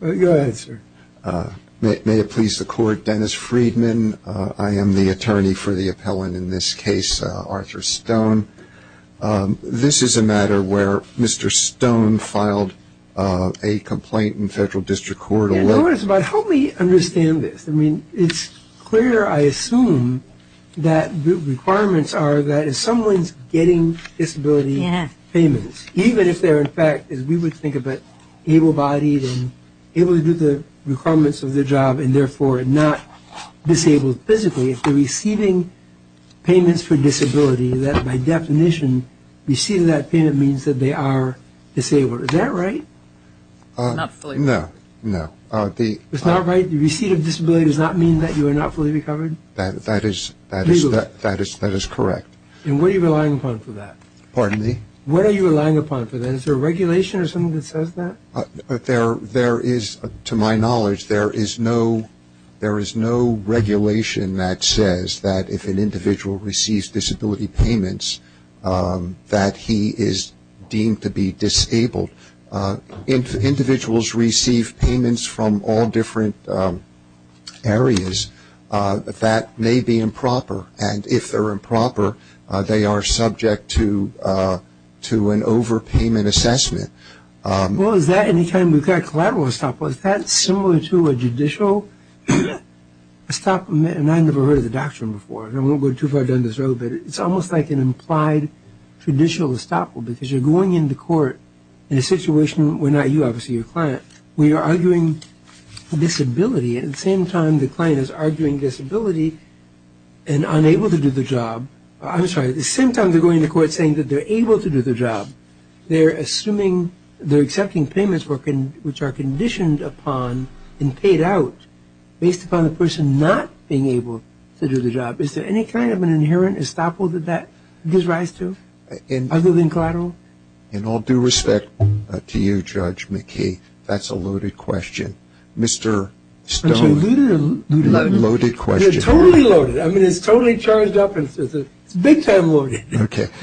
May it please the Court, Dennis Freedman. I am the attorney for the appellant in this case, Arthur Stone. This is a matter where Mr. Stone filed a complaint in Federal District Court. Help me understand this. I mean, it's clear, I assume, that the requirements are that if someone's getting disability payments, even if they're in fact, as we would think of it, able-bodied and able to do the requirements of the job and therefore not disabled physically, if they're receiving payments for disability, that by definition, receiving that payment means that they are disabled. Is that right? Not fully. No, no. It's not right? The receipt of disability does not mean that you are not fully recovered? That is correct. And what are you relying upon for that? Pardon me? What are you relying upon for that? Is there a regulation or something that says that? There is, to my knowledge, there is no regulation that says that if an individual receives disability payments that he is deemed to be disabled. Individuals receive payments from all different areas that may be improper. And if they're improper, they are subject to an overpayment assessment. Well, is that any kind of collateral estoppel? Is that similar to a judicial estoppel? And I've never heard of the doctrine before, and I won't go too far down this road, but it's almost like an implied judicial estoppel, because you're going into court in a situation where not you, obviously, your client. We are arguing disability, and at the same time the client is arguing disability and unable to do the job. I'm sorry, at the same time they're going to court saying that they're able to do the job, they're assuming, they're accepting payments which are conditioned upon and paid out based upon the person not being able to do the job. Is there any kind of an inherent estoppel that that gives rise to, other than collateral? In all due respect to you, Judge McKee, that's a loaded question. Mr. Stone, loaded question. It's totally loaded. I mean, it's totally charged up. It's big time loaded.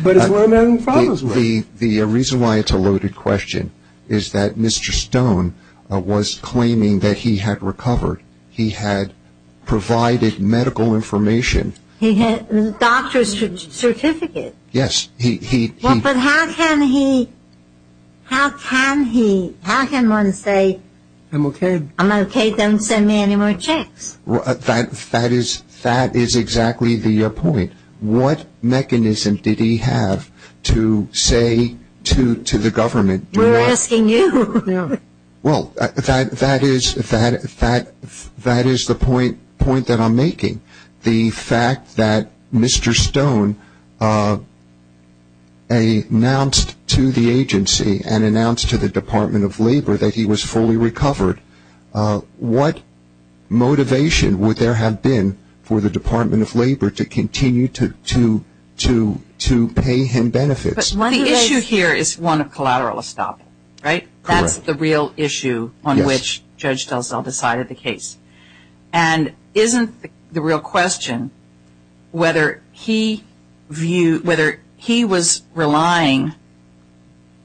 But it's one of my own problems. The reason why it's a loaded question is that Mr. Stone was claiming that he had recovered. He had provided medical information. He had a doctor's certificate. Yes. But how can he, how can one say, I'm okay, don't send me any more checks? That is exactly the point. What mechanism did he have to say to the government? We're asking you. Well, that is the point that I'm making. The fact that Mr. Stone announced to the agency and announced to the Department of Labor that he was fully recovered, what motivation would there have been for the Department of Labor to continue to pay him benefits? But the issue here is one of collateral estoppel, right? Correct. That's the real issue on which Judge DelSalle decided the case. And isn't the real question whether he was relying,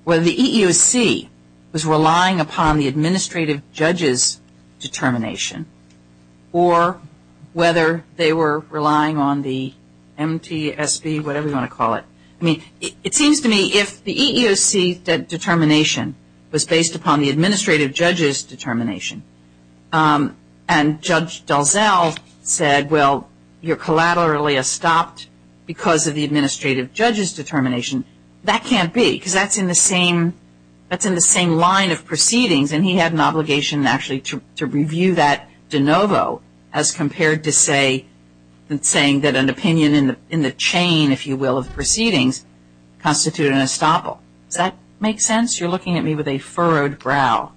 whether the EEOC was relying upon the administrative judge's determination or whether they were relying on the MTSB, whatever you want to call it. I mean, it seems to me if the EEOC determination was based upon the administrative judge's determination and Judge DelSalle said, well, you're collaterally estopped because of the administrative judge's determination, that can't be because that's in the same line of proceedings. And he had an obligation actually to review that de novo as compared to saying that an opinion in the chain, if you will, of proceedings constituted an estoppel. Does that make sense? You're looking at me with a furrowed brow.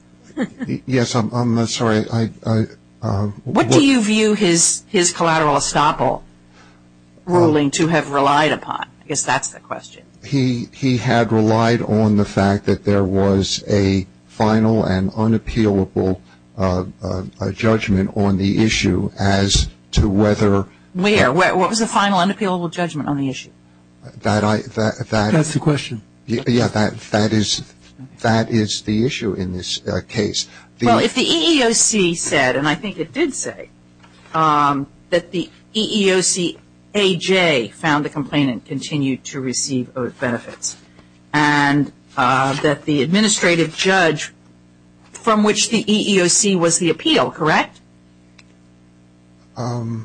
Yes, I'm sorry. What do you view his collateral estoppel ruling to have relied upon? I guess that's the question. He had relied on the fact that there was a final and unappealable judgment on the issue as to whether. Where? What was the final unappealable judgment on the issue? That's the question. Yes, that is the issue in this case. Well, if the EEOC said, and I think it did say, that the EEOC AJ found the complainant continued to receive benefits and that the administrative judge from which the EEOC was the appeal, correct? No,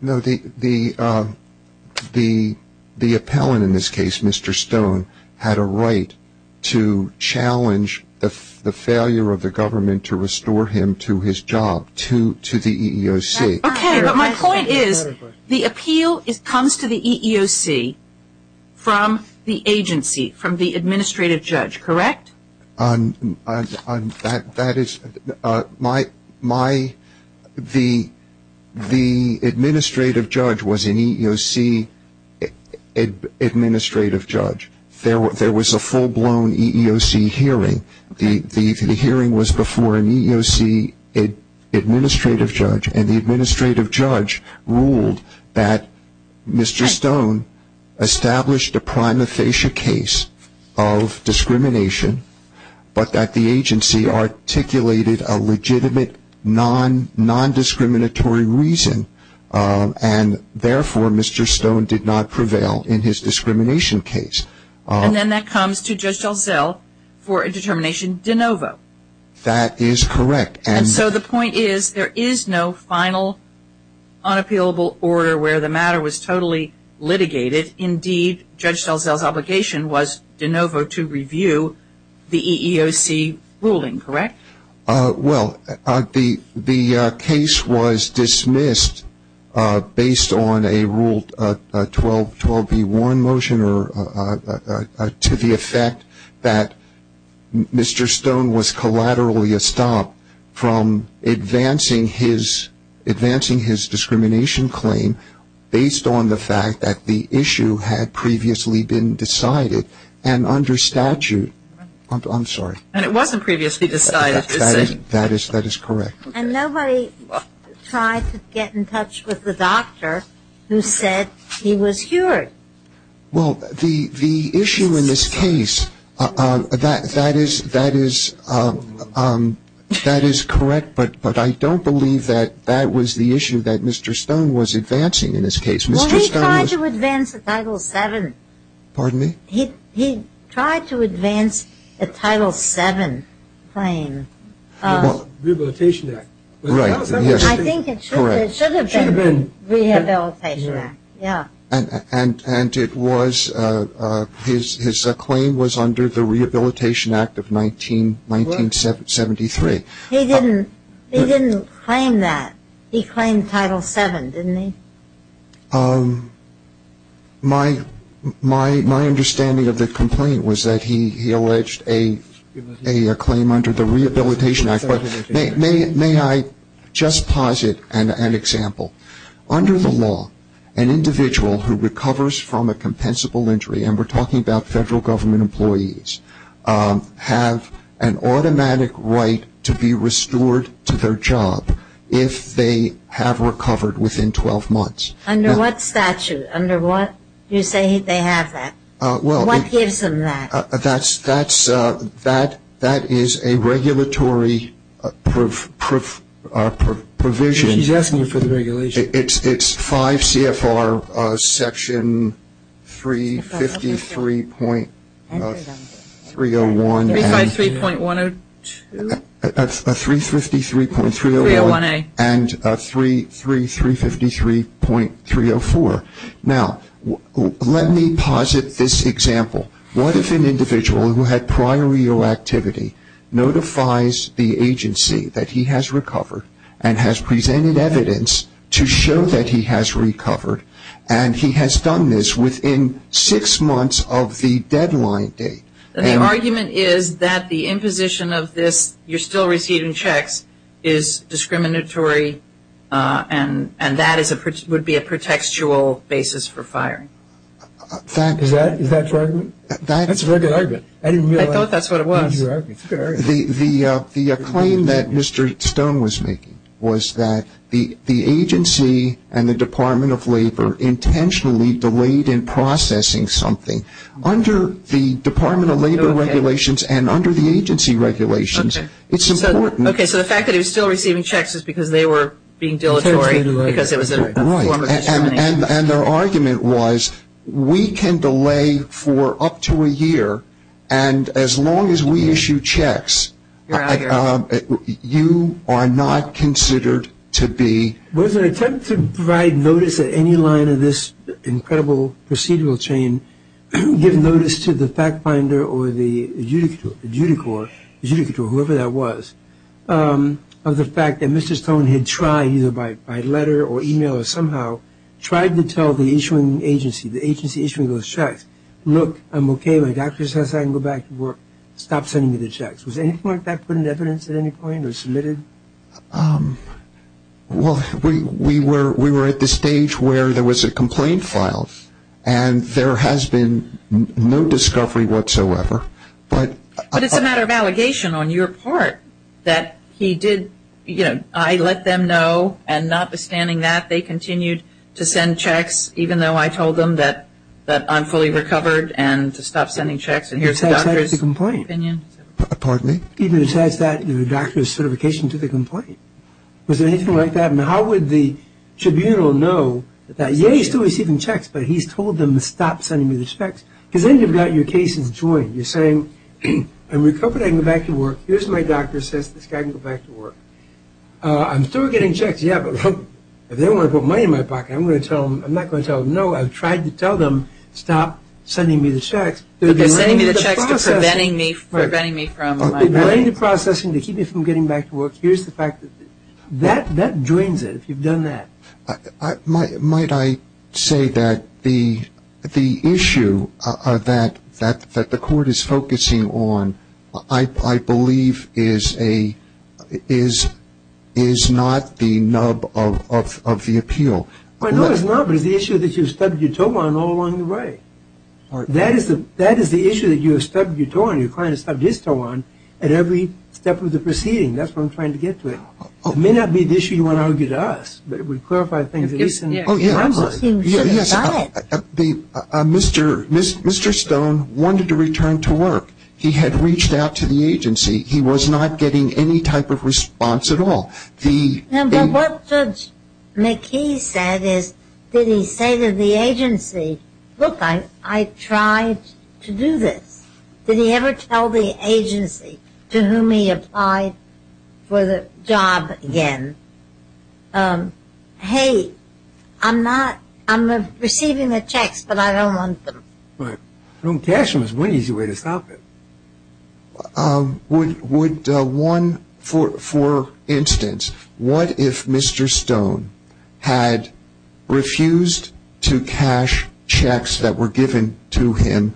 the appellant in this case, Mr. Stone, had a right to challenge the failure of the government to restore him to his job, to the EEOC. Okay, but my point is the appeal comes to the EEOC from the agency, from the administrative judge, correct? That is my, the administrative judge was an EEOC administrative judge. There was a full-blown EEOC hearing. The hearing was before an EEOC administrative judge, and the administrative judge ruled that Mr. Stone established a prima facie case of discrimination, but that the agency articulated a legitimate non-discriminatory reason, and therefore Mr. Stone did not prevail in his discrimination case. And then that comes to Judge DelZell for a determination de novo. That is correct. And so the point is there is no final unappealable order where the matter was totally litigated. Indeed, Judge DelZell's obligation was de novo to review the EEOC ruling, correct? Well, the case was dismissed based on a Rule 12B1 motion to the effect that Mr. Stone was collaterally a stop from advancing his discrimination claim based on the fact that the issue had previously been decided, and under statute, I'm sorry. And it wasn't previously decided, you're saying? That is correct. And nobody tried to get in touch with the doctor who said he was cured. Well, the issue in this case, that is correct, but I don't believe that that was the issue that Mr. Stone was advancing in this case. Well, he tried to advance a Title VII. Pardon me? He tried to advance a Title VII claim. The Rehabilitation Act. Right. I think it should have been the Rehabilitation Act, yeah. And his claim was under the Rehabilitation Act of 1973. He didn't claim that. He claimed Title VII, didn't he? My understanding of the complaint was that he alleged a claim under the Rehabilitation Act. May I just posit an example? Under the law, an individual who recovers from a compensable injury, and we're talking about Federal Government employees, have an automatic right to be restored to their job if they have recovered within 12 months. Under what statute? Under what? You say they have that. What gives them that? That is a regulatory provision. She's asking you for the regulation. It's 5 CFR Section 353.301. 353.102? 353.301. 301A. And 3353.304. Now, let me posit this example. What if an individual who had prior real activity notifies the agency that he has recovered and has presented evidence to show that he has recovered, and he has done this within six months of the deadline date? The argument is that the imposition of this, you're still receiving checks, is discriminatory and that would be a pretextual basis for firing. Is that your argument? That's a very good argument. I didn't realize. I thought that's what it was. It's a good argument. The claim that Mr. Stone was making was that the agency and the Department of Labor intentionally delayed in processing something. Under the Department of Labor regulations and under the agency regulations, it's important. Okay. So the fact that he was still receiving checks is because they were being dilatory, because it was a form of discrimination. Right. And their argument was we can delay for up to a year, and as long as we issue checks, you are not considered to be. Was there an attempt to provide notice at any line of this incredible procedural chain, give notice to the fact finder or the adjudicator, whoever that was, of the fact that Mr. Stone had tried, either by letter or email or somehow, tried to tell the issuing agency, the agency issuing those checks, look, I'm okay, my doctor says I can go back to work, stop sending me the checks. Was anything like that put into evidence at any point or submitted? Well, we were at the stage where there was a complaint filed, and there has been no discovery whatsoever. But it's a matter of allegation on your part that he did, you know, I let them know, and notwithstanding that, they continued to send checks, even though I told them that I'm fully recovered and to stop sending checks, and here's the doctor's opinion. Even besides that, the doctor's certification to the complaint. Was there anything like that? And how would the tribunal know that, yeah, he's still receiving checks, but he's told them to stop sending me the checks? Because then you've got your cases joined. You're saying, I'm recovered, I can go back to work. Here's my doctor, says this guy can go back to work. I'm still getting checks, yeah, but look, if they want to put money in my pocket, I'm going to tell them, I'm not going to tell them, no, I've tried to tell them, stop sending me the checks. They're delaying the processing to keep me from getting back to work. Here's the fact that that drains it, if you've done that. Might I say that the issue that the court is focusing on, I believe, is not the nub of the appeal. No, it's not, but it's the issue that you stubbed your toe on all along the way. That is the issue that you have stubbed your toe on, your client has stubbed his toe on at every step of the proceeding. That's what I'm trying to get to. It may not be the issue you want to argue to us, but it would clarify things. Mr. Stone wanted to return to work. He had reached out to the agency. He was not getting any type of response at all. What Judge McKee said is, did he say to the agency, look, I tried to do this. Did he ever tell the agency to whom he applied for the job again, hey, I'm not, I'm receiving the checks, but I don't want them. Right. Cash is one easy way to stop it. Would one, for instance, what if Mr. Stone had refused to cash checks that were given to him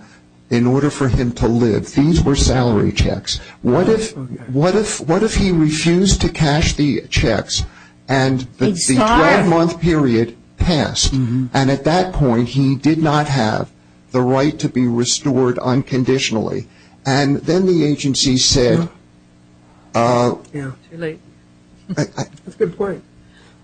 in order for him to live? These were salary checks. What if he refused to cash the checks and the 12-month period passed, and at that point he did not have the right to be restored unconditionally, and then the agency said. Too late. That's a good point.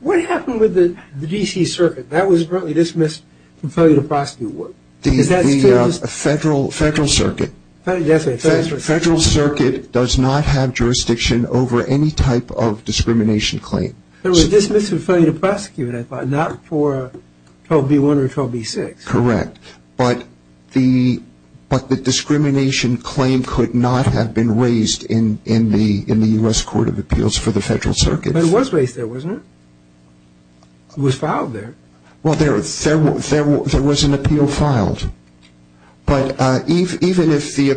What happened with the D.C. Circuit? That was broadly dismissed from failure to prosecute. The Federal Circuit does not have jurisdiction over any type of discrimination claim. It was dismissed from failure to prosecute, I thought, not for 12B1 or 12B6. Correct. But the discrimination claim could not have been raised in the U.S. Court of Appeals for the Federal Circuit. But it was raised there, wasn't it? It was filed there. Well, there was an appeal filed. But even if the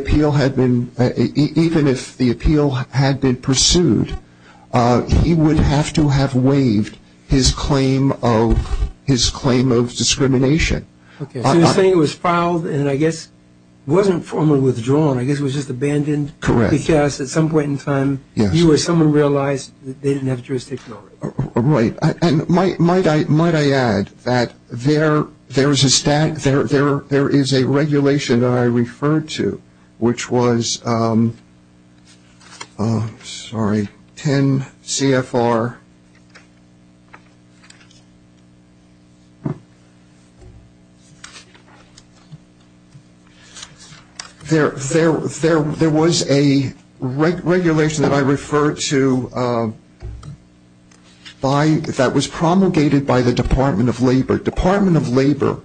appeal had been pursued, he would have to have waived his claim of discrimination. Okay. So you're saying it was filed and, I guess, wasn't formally withdrawn. I guess it was just abandoned. Correct. Because at some point in time, you or someone realized they didn't have jurisdiction over it. Right. And might I add that there is a regulation that I referred to, which was 10 CFR. There was a regulation that I referred to that was promulgated by the Department of Labor. Department of Labor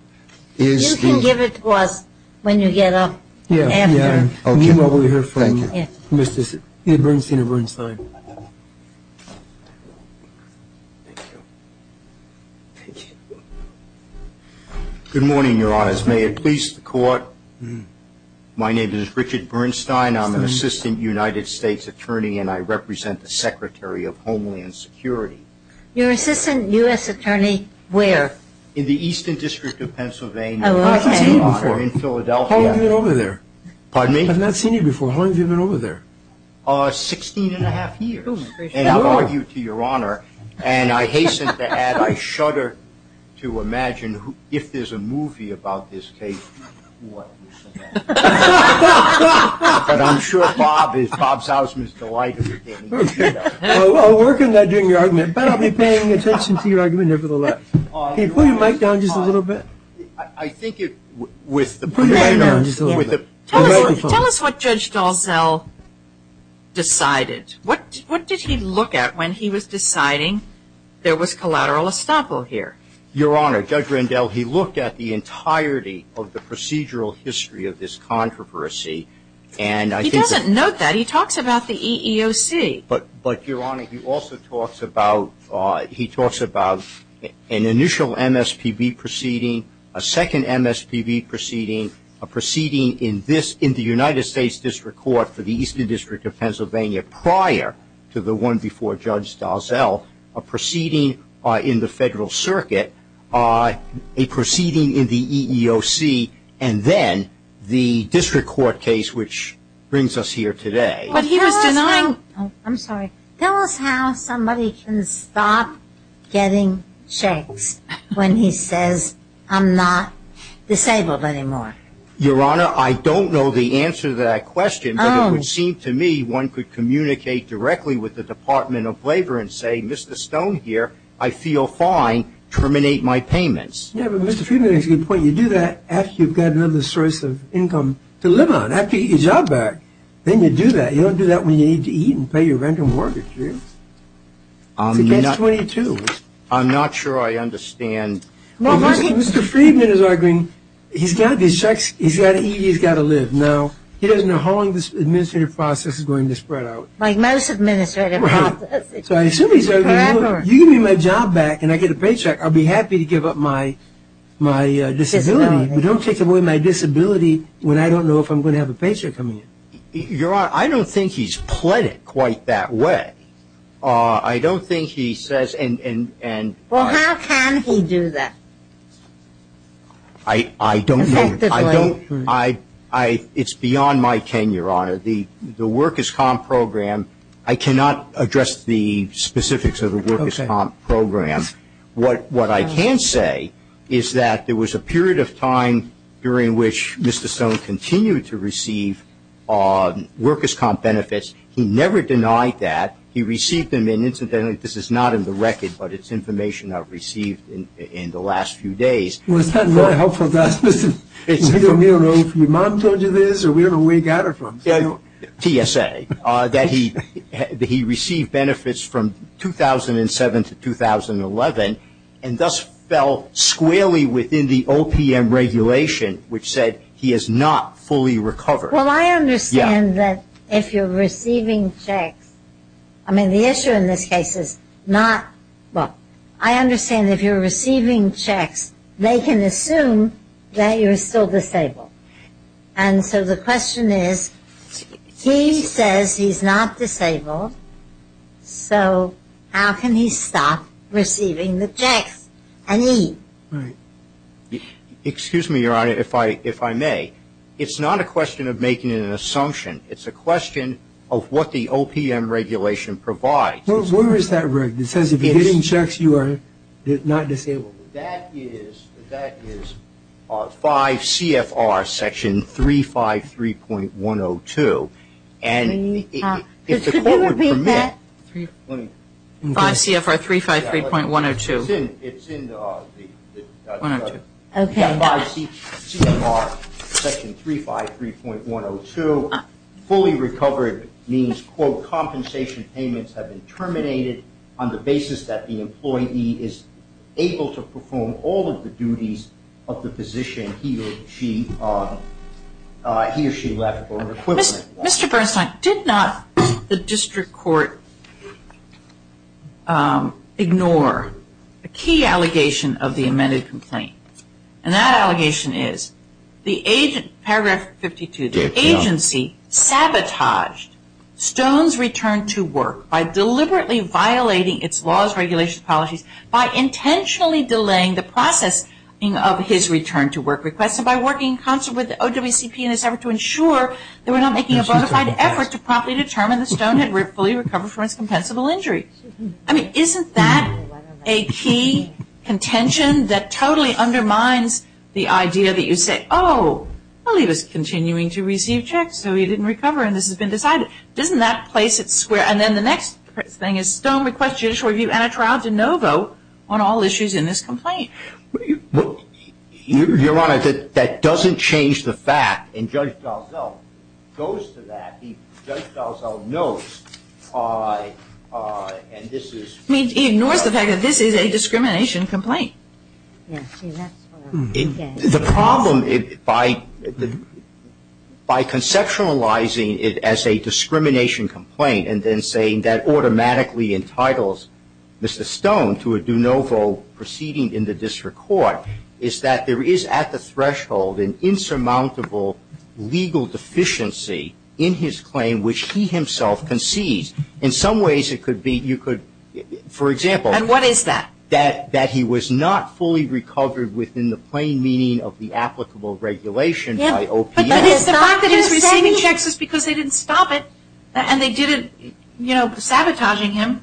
is the — You can give it to us when you get up after. Yeah. Okay. Meanwhile, we'll hear from Mr. Bernstein. Thank you. Thank you. Good morning, Your Honors. May it please the Court, my name is Richard Bernstein. I'm an Assistant United States Attorney, and I represent the Secretary of Homeland Security. Your Assistant U.S. Attorney where? In the Eastern District of Pennsylvania. Oh, okay. I've not seen you before. In Philadelphia. How long have you been over there? Pardon me? I've not seen you before. How long have you been over there? Sixteen and a half years. And I'll argue to Your Honor, and I hasten to add, I shudder to imagine if there's a movie about this case, what would it be? But I'm sure Bob Sausman is delighted to hear that. I'll work on that during your argument, but I'll be paying attention to your argument nevertheless. Can you put your mic down just a little bit? I think it — Put your mic down just a little bit. Tell us what Judge Dalzell decided. What did he look at when he was deciding there was collateral estoppel here? Your Honor, Judge Rendell, he looked at the entirety of the procedural history of this controversy, and I think — He doesn't note that. He talks about the EEOC. But, Your Honor, he also talks about — he talks about an initial MSPB proceeding, a second MSPB proceeding, a proceeding in this — in the United States District Court for the Eastern District of Pennsylvania prior to the one before Judge Dalzell, a proceeding in the Federal Circuit, a proceeding in the EEOC, and then the district court case, which brings us here today. But he was denying — I'm sorry. Tell us how somebody can stop getting checks when he says, I'm not disabled anymore. Your Honor, I don't know the answer to that question, but it would seem to me one could communicate directly with the Department of Labor and say, Mr. Stone here, I feel fine. Terminate my payments. Yeah, but Mr. Friedman makes a good point. You do that after you've got another source of income to live on, after you get your job back. Then you do that. You don't do that when you need to eat and pay your rent and mortgage, do you? I'm not — It's against 22. I'm not sure I understand. Mr. Friedman is arguing he's got to get checks. He's got to eat. He's got to live. Now, he doesn't know how long this administrative process is going to spread out. Like most administrative processes. Right. So I assume he's arguing, you give me my job back and I get a paycheck, I'll be happy to give up my disability. You don't take away my disability when I don't know if I'm going to have a paycheck coming in. Your Honor, I don't think he's pled it quite that way. I don't think he says — Well, how can he do that? I don't know. It's beyond my tenure, Your Honor. The Work Is Calm program, I cannot address the specifics of the Work Is Calm program. What I can say is that there was a period of time during which Mr. Stone continued to receive Work Is Calm benefits. He never denied that. He received them, and incidentally, this is not in the record, but it's information I've received in the last few days. Well, it's not very helpful to us. We don't know if your mom told you this or we don't know where you got it from. TSA, that he received benefits from 2007 to 2011 and thus fell squarely within the OPM regulation, which said he has not fully recovered. Well, I understand that if you're receiving checks — I mean, the issue in this case is not — well, I understand if you're receiving checks, they can assume that you're still disabled. And so the question is, he says he's not disabled, so how can he stop receiving the checks and eat? Right. Excuse me, Your Honor, if I may. It's not a question of making an assumption. It's a question of what the OPM regulation provides. Well, where is that regulation? It says if you're getting checks, you are not disabled. That is 5 CFR section 353.102. And if the court would permit — Could you repeat that? 5 CFR 353.102. It's in the — Okay. 5 CFR section 353.102. Fully recovered means, quote, compensation payments have been terminated on the basis that the employee is able to perform all of the duties of the position he or she left or an equivalent. Mr. Bernstein, did not the district court ignore a key allegation of the amended complaint? And that allegation is paragraph 52, the agency sabotaged Stone's return to work by deliberately violating its laws, regulations, policies, by intentionally delaying the processing of his return to work request, and by working in concert with the OWCP in its effort to ensure they were not making a bona fide effort to promptly determine that Stone had fully recovered from his compensable injury. I mean, isn't that a key contention that totally undermines the idea that you say, oh, well, he was continuing to receive checks, so he didn't recover, and this has been decided? Doesn't that place it square? And then the next thing is Stone requests judicial review and a trial to no vote on all issues in this complaint. Your Honor, that doesn't change the fact, and Judge Dalzell goes to that. Judge Dalzell knows, and this is- He ignores the fact that this is a discrimination complaint. The problem, by conceptualizing it as a discrimination complaint, and then saying that automatically entitles Mr. Stone to a do-no-vote proceeding in the district court, is that there is at the threshold an insurmountable legal deficiency in his claim, which he himself concedes. In some ways, it could be you could, for example- And what is that? That he was not fully recovered within the plain meaning of the applicable regulation by OPM. But it's the fact that he's receiving checks is because they didn't stop it, and they didn't, you know, sabotage him.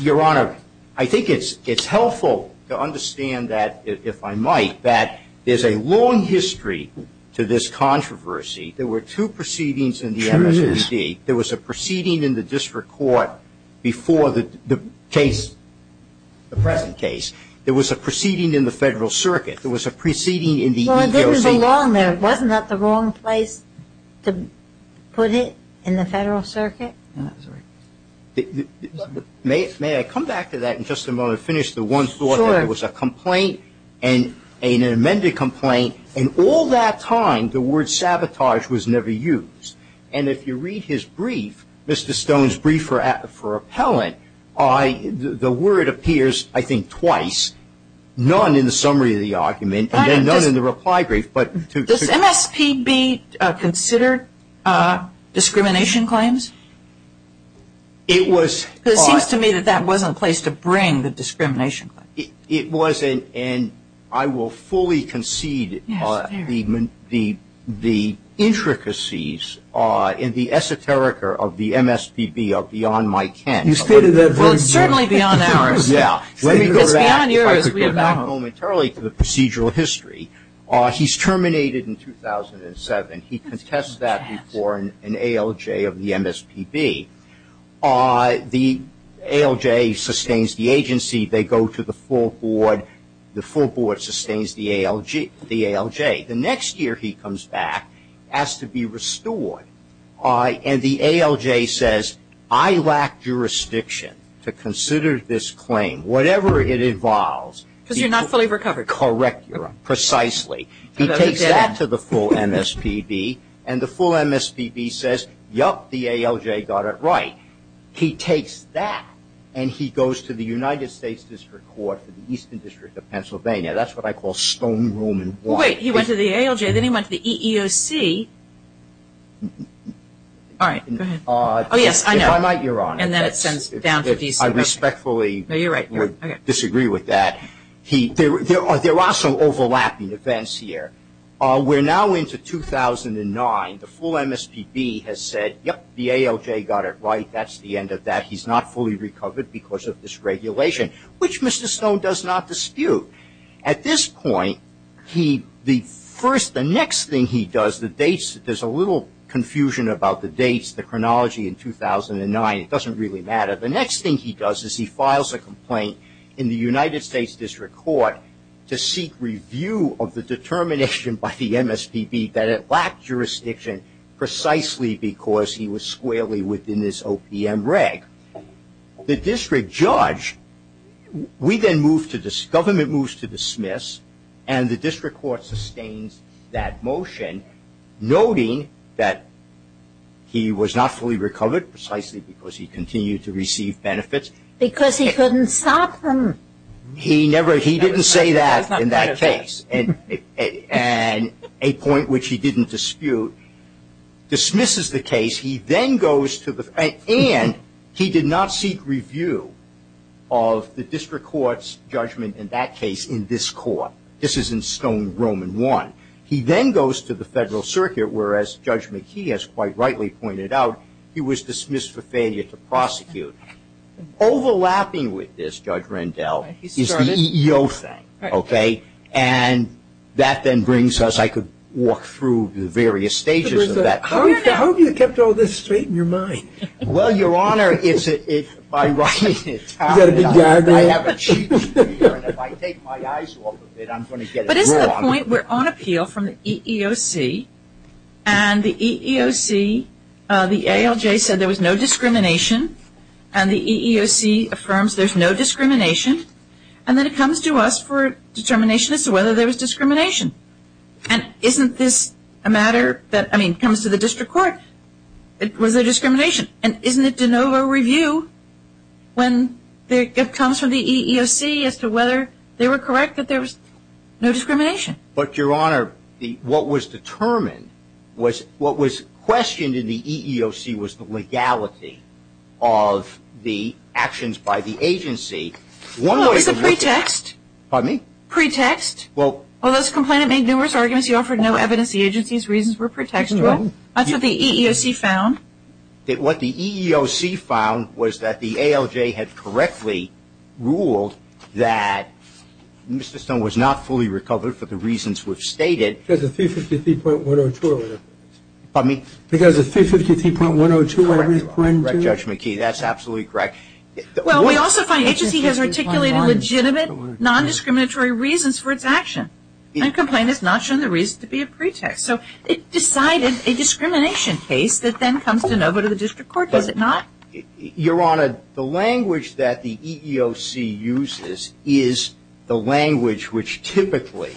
Your Honor, I think it's helpful to understand that, if I might, that there's a long history to this controversy. There were two proceedings in the MSPD. There was a proceeding in the district court before the case, the present case. There was a proceeding in the Federal Circuit. There was a proceeding in the EEOC. Well, it doesn't belong there. Wasn't that the wrong place to put it, in the Federal Circuit? May I come back to that in just a moment and finish the one thought that it was a complaint and an amended complaint? In all that time, the word sabotage was never used. And if you read his brief, Mr. Stone's brief for appellant, the word appears, I think, twice. None in the summary of the argument and then none in the reply brief. Does MSPB consider discrimination claims? It was. It seems to me that that wasn't placed to bring the discrimination. It wasn't, and I will fully concede the intricacies in the esoterica of the MSPB are beyond my ken. You stated that very clearly. Well, it's certainly beyond ours. Let me go back momentarily to the procedural history. He's terminated in 2007. He contests that before an ALJ of the MSPB. The ALJ sustains the agency. They go to the full board. The full board sustains the ALJ. The next year he comes back, has to be restored, and the ALJ says, I lack jurisdiction to consider this claim, whatever it involves. Because you're not fully recovered. Correct. Precisely. He takes that to the full MSPB, and the full MSPB says, yup, the ALJ got it right. He takes that and he goes to the United States District Court for the Eastern District of Pennsylvania. That's what I call stone room and wine. Wait, he went to the ALJ, then he went to the EEOC. All right. Go ahead. Oh, yes, I know. If I might, Your Honor. And then it sends down to DC. I respectfully would disagree with that. There are some overlapping events here. We're now into 2009. The full MSPB has said, yup, the ALJ got it right. That's the end of that. He's not fully recovered because of this regulation, which Mr. Stone does not dispute. At this point, the next thing he does, there's a little confusion about the dates, the chronology in 2009. It doesn't really matter. The next thing he does is he files a complaint in the United States District Court to seek review of the determination by the MSPB that it lacked jurisdiction precisely because he was squarely within this OPM reg. The district judge, we then move to this, government moves to dismiss, and the district court sustains that motion, noting that he was not fully recovered precisely because he continued to receive benefits. Because he couldn't stop them. He never, he didn't say that in that case. And a point which he didn't dispute dismisses the case. He then goes to the, and he did not seek review of the district court's judgment in that case in this court. This is in Stone Roman I. He then goes to the federal circuit, whereas Judge McKee has quite rightly pointed out he was dismissed for failure to prosecute. Overlapping with this, Judge Rendell, is the EEO thing. Okay? And that then brings us, I could walk through the various stages of that. How have you kept all this straight in your mind? Well, Your Honor, it's by writing it down. Is that a big diagram? I have a cheat sheet here, and if I take my eyes off of it, I'm going to get it wrong. But this is the point, we're on appeal from the EEOC, and the EEOC, the ALJ said there was no discrimination. And the EEOC affirms there's no discrimination. And then it comes to us for determination as to whether there was discrimination. And isn't this a matter that, I mean, it comes to the district court. It was a discrimination. And isn't it de novo review when it comes from the EEOC as to whether they were correct that there was no discrimination? But, Your Honor, what was determined, what was questioned in the EEOC was the legality of the actions by the agency Well, it was a pretext. Pardon me? Pretext. Well, this complainant made numerous arguments. He offered no evidence the agency's reasons were pretextual. That's what the EEOC found. What the EEOC found was that the ALJ had correctly ruled that Mr. Stone was not fully recovered for the reasons we've stated. Because of 353.102. Pardon me? Because of 353.102. Correct, correct, Judge McKee, that's absolutely correct. Well, we also find the agency has articulated legitimate non-discriminatory reasons for its action. The complainant has not shown the reason to be a pretext. So it decided a discrimination case that then comes de novo to the district court, does it not? Your Honor, the language that the EEOC uses is the language which typically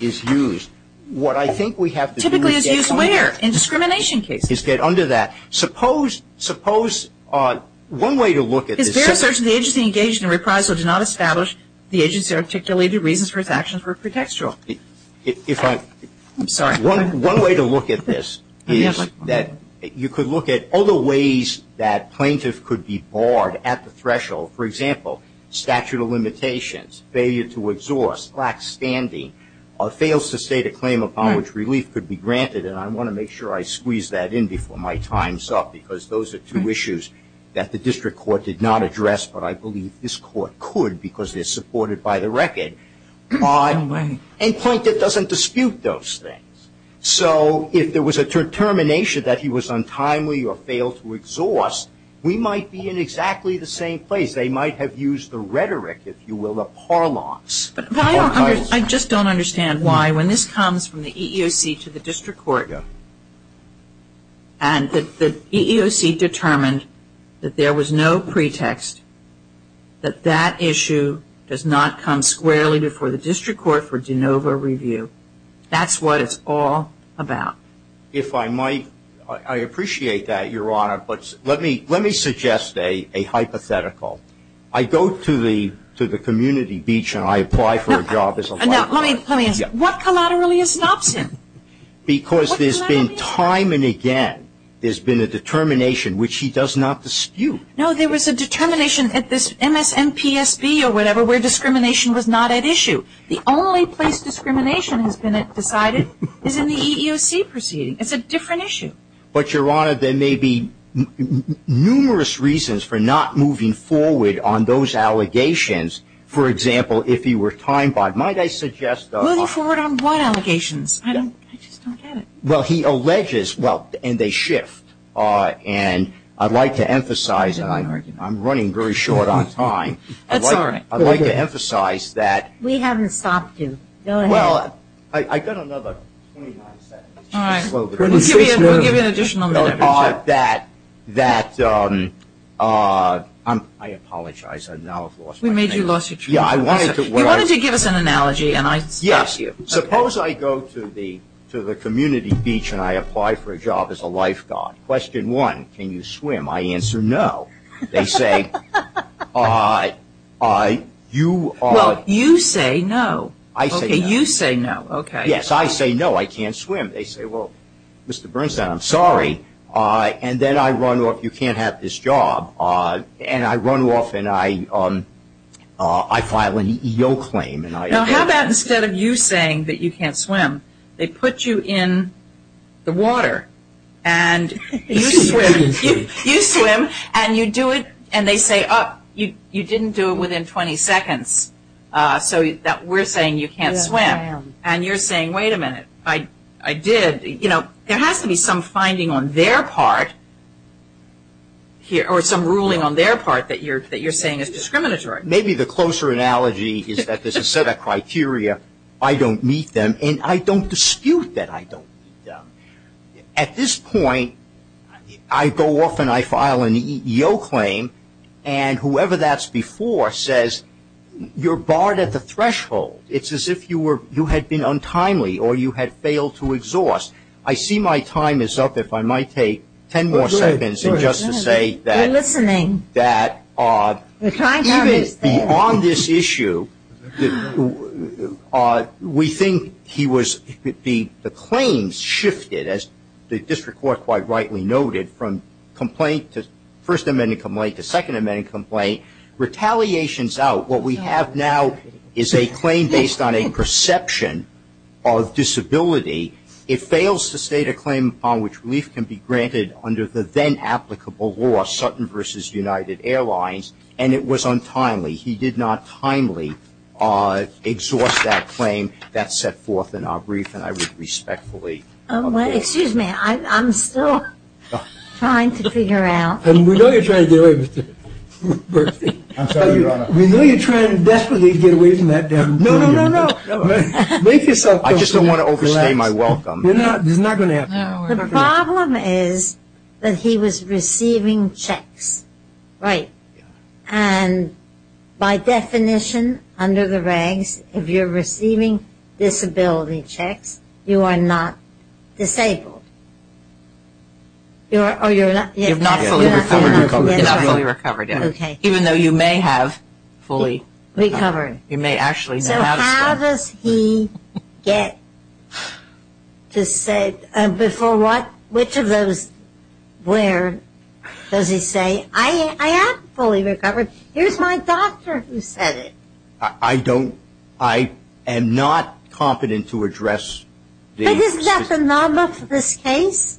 is used. What I think we have to do is get under that. Typically is used where? In discrimination cases. Is get under that. Suppose one way to look at this. It's fair to say the agency engaged in a reprisal did not establish the agency articulated reasons for its actions were pretextual. I'm sorry. One way to look at this is that you could look at other ways that plaintiffs could be barred at the threshold. For example, statute of limitations, failure to exhaust, lax standing, or fails to state a claim upon which relief could be granted. And I want to make sure I squeeze that in before my time's up because those are two issues that the district court did not address, but I believe this court could because they're supported by the record. No way. And plaintiff doesn't dispute those things. So if there was a determination that he was untimely or failed to exhaust, we might be in exactly the same place. They might have used the rhetoric, if you will, the parlance. I just don't understand why when this comes from the EEOC to the district court and the EEOC determined that there was no pretext, that that issue does not come squarely before the district court for de novo review. That's what it's all about. If I might, I appreciate that, Your Honor, but let me suggest a hypothetical. I go to the community beach and I apply for a job. Now, let me ask, what collaterally is Knopson? Because there's been time and again there's been a determination which he does not dispute. No, there was a determination at this MSNPSB or whatever where discrimination was not at issue. The only place discrimination has been decided is in the EEOC proceeding. It's a different issue. But, Your Honor, there may be numerous reasons for not moving forward on those allegations. For example, if he were timebombed, might I suggest Moving forward on what allegations? I just don't get it. Well, he alleges, well, and they shift. And I'd like to emphasize, and I'm running very short on time. That's all right. I'd like to emphasize that We haven't stopped you. Go ahead. Well, I got another 29 seconds. All right. We'll give you an additional minute. That, I apologize. I now have lost my name. We made you lose your truth. Yeah, I wanted to You wanted to give us an analogy. Yes. Suppose I go to the community beach and I apply for a job as a lifeguard. Question one, can you swim? I answer no. They say, you are Well, you say no. I say no. Okay, you say no. Yes, I say no. I can't swim. They say, well, Mr. Bernstein, I'm sorry. And then I run off. You can't have this job. And I run off and I file an EO claim. Now, how about instead of you saying that you can't swim, they put you in the water and you swim. You swim and you do it and they say, oh, you didn't do it within 20 seconds. So we're saying you can't swim. Yes, I am. And you're saying, wait a minute, I did. You know, there has to be some finding on their part or some ruling on their part that you're saying is discriminatory. Maybe the closer analogy is that there's a set of criteria, I don't meet them, and I don't dispute that I don't meet them. At this point, I go off and I file an EO claim, and whoever that's before says, you're barred at the threshold. It's as if you had been untimely or you had failed to exhaust. I see my time is up. If I might take ten more seconds just to say that beyond this issue, we think the claims shifted, as the district court quite rightly noted, from complaint to First Amendment complaint to Second Amendment complaint, retaliations out. What we have now is a claim based on a perception of disability. It fails to state a claim upon which relief can be granted under the then-applicable law, Sutton v. United Airlines, and it was untimely. He did not timely exhaust that claim. That's set forth in our brief, and I would respectfully object. Excuse me. I'm still trying to figure out. We know you're trying to get away, Mr. Bernstein. I'm sorry, Your Honor. We know you're trying desperately to get away from that. No, no, no, no. Make yourself comfortable. I just don't want to overstay my welcome. You're not going to have to. The problem is that he was receiving checks, right? And by definition, under the regs, if you're receiving disability checks, you are not disabled. You're not fully recovered, even though you may have fully recovered. You may actually have some. So how does he get to say, before what, which of those, where does he say, I am fully recovered? Here's my doctor who said it. I don't. I am not competent to address these. Isn't that the norm of this case?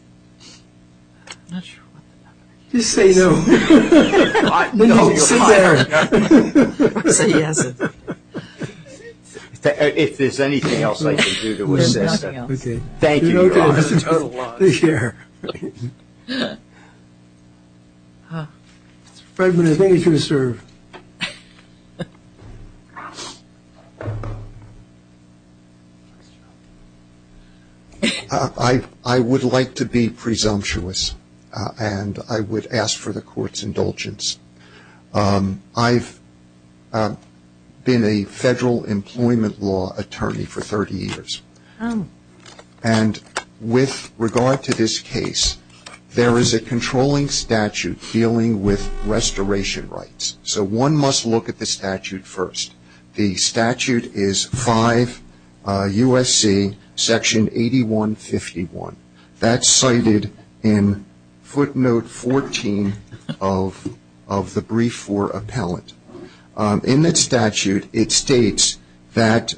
I'm not sure what the norm is. Just say no. No, sit there. If there's anything else I can do to assist. There's nothing else. Thank you, Your Honor. You're welcome. This is a total loss. I would like to be presumptuous, and I would ask for the court's indulgence. I've been a federal employment law attorney for 30 years. There is a controlling statute dealing with restoration rights. So one must look at the statute first. The statute is 5 U.S.C. section 8151. That's cited in footnote 14 of the brief for appellant. In the statute, it states that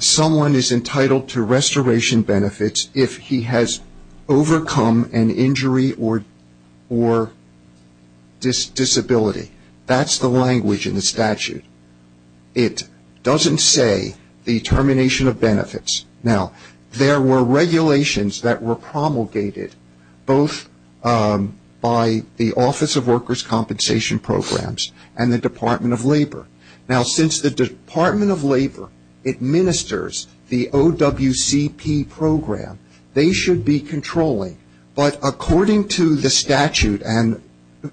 someone is entitled to restoration benefits if he has overcome an injury or disability. That's the language in the statute. It doesn't say the termination of benefits. Now, there were regulations that were promulgated both by the Office of Workers' Compensation Programs and the Department of Labor. Now, since the Department of Labor administers the OWCP program, they should be controlling. But according to the statute, and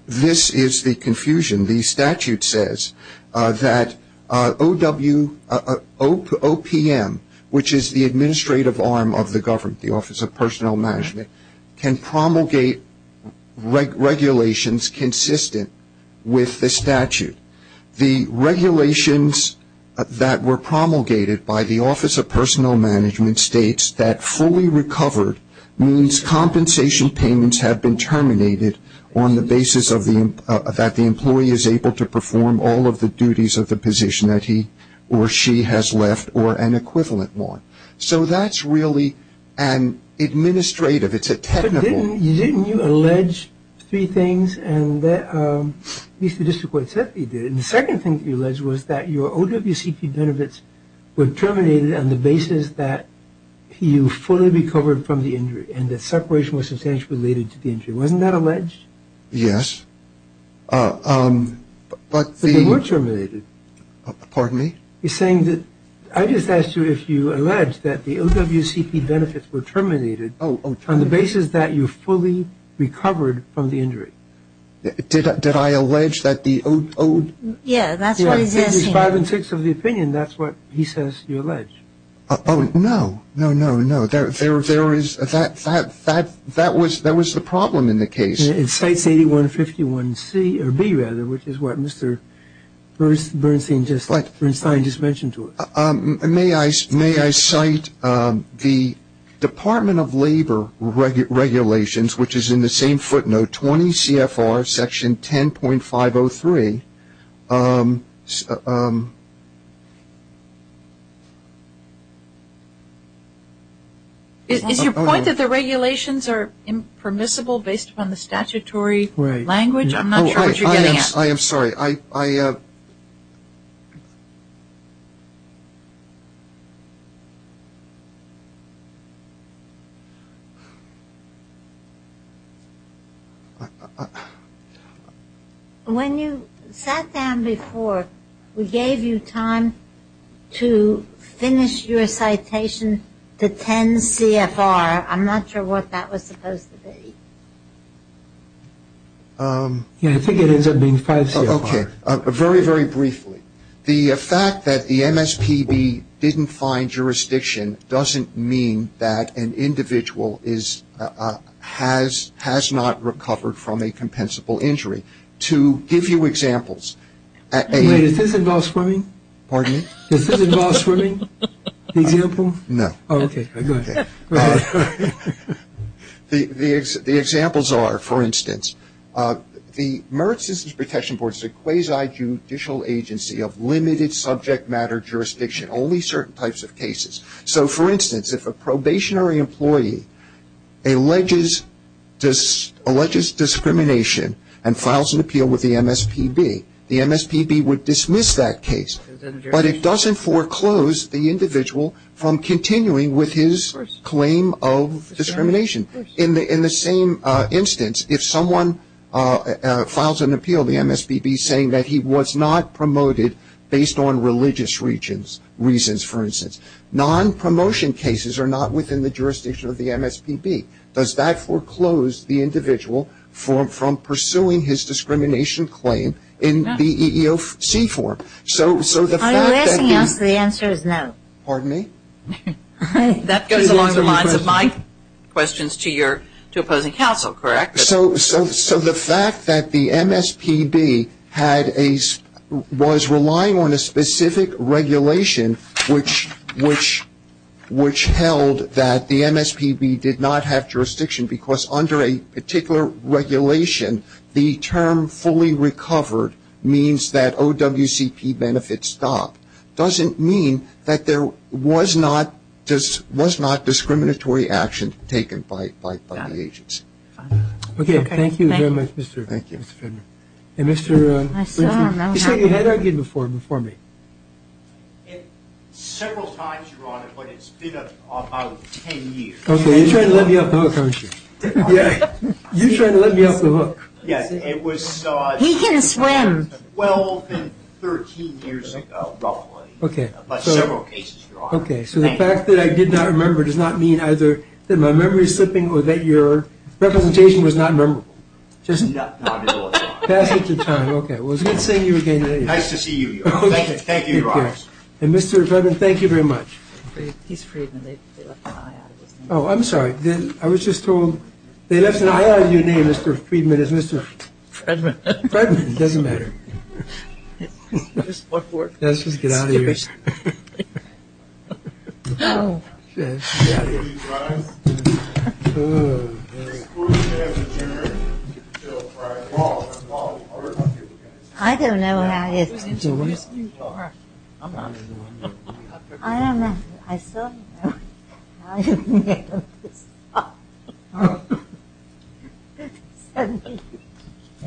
this is the confusion, the statute says that OPM, which is the administrative arm of the government, the Office of Personnel Management, can promulgate regulations consistent with the statute. The regulations that were promulgated by the Office of Personnel Management states that fully recovered means compensation payments have been terminated on the basis that the employee is able to perform all of the duties of the position that he or she has left or an equivalent one. So that's really an administrative. It's a technical. But didn't you allege three things? And at least the district court said that you did. And the second thing that you alleged was that your OWCP benefits were terminated on the basis that you fully recovered from the injury and that separation was substantially related to the injury. Wasn't that alleged? Yes. But they were terminated. Pardon me? I just asked you if you alleged that the OWCP benefits were terminated on the basis that you fully recovered from the injury. Did I allege that the OWC? Yes, that's what he's asking. It's five and six of the opinion. That's what he says you allege. Oh, no. No, no, no. That was the problem in the case. It cites 8151B, which is what Mr. Bernstein just mentioned to us. May I cite the Department of Labor regulations, which is in the same footnote, 20 CFR section 10.503. Is your point that the regulations are impermissible based upon the statutory language? I'm not sure what you're getting at. I am sorry. When you sat down before, we gave you time to finish your citation to 10 CFR. I'm not sure what that was supposed to be. I think it ends up being five CFR. Okay. Very, very briefly. The fact that the MSPB didn't find jurisdiction doesn't mean that an individual has not recovered from a compensable injury. To give you examples. Wait, does this involve swimming? Pardon me? Does this involve swimming, the example? No. Okay. The examples are, for instance, the Merit Citizens Protection Board is a quasi-judicial agency of limited subject matter jurisdiction, only certain types of cases. So, for instance, if a probationary employee alleges discrimination and files an appeal with the MSPB, the MSPB would dismiss that case. But it doesn't foreclose the individual from continuing with his claim of discrimination. In the same instance, if someone files an appeal, the MSPB, saying that he was not promoted based on religious reasons, for instance. Non-promotion cases are not within the jurisdiction of the MSPB. Does that foreclose the individual from pursuing his discrimination claim in the EEOC form? Are you asking us the answer is no? Pardon me? That goes along the lines of my questions to opposing counsel, correct? So the fact that the MSPB was relying on a specific regulation which held that the MSPB did not have jurisdiction because under a particular regulation the term fully recovered means that OWCP benefits stop, doesn't mean that there was not discriminatory action taken by the agency. Okay. Thank you very much, Mr. Finner. Thank you. And Mr. Finner, you said you had argued before me. Several times, Your Honor, but it's been about 10 years. Okay. You're trying to let me off the hook, aren't you? You're trying to let me off the hook. Yes. He can swim. Well, 13 years ago, roughly. Okay. But several cases, Your Honor. Okay. So the fact that I did not remember does not mean either that my memory is slipping or that your representation was not memorable. Not at all, Your Honor. Okay. It was good seeing you again today. Nice to see you, Your Honor. Thank you, Your Honor. And Mr. Freedman, thank you very much. He's Freedman. They left an I out of his name. Oh, I'm sorry. I was just told they left an I out of your name, Mr. Freedman, as Mr. Freedman. Freedman. It doesn't matter. Just get out of here. I don't know what I did. I don't remember. I still don't remember. I didn't make up this story. It's so neat.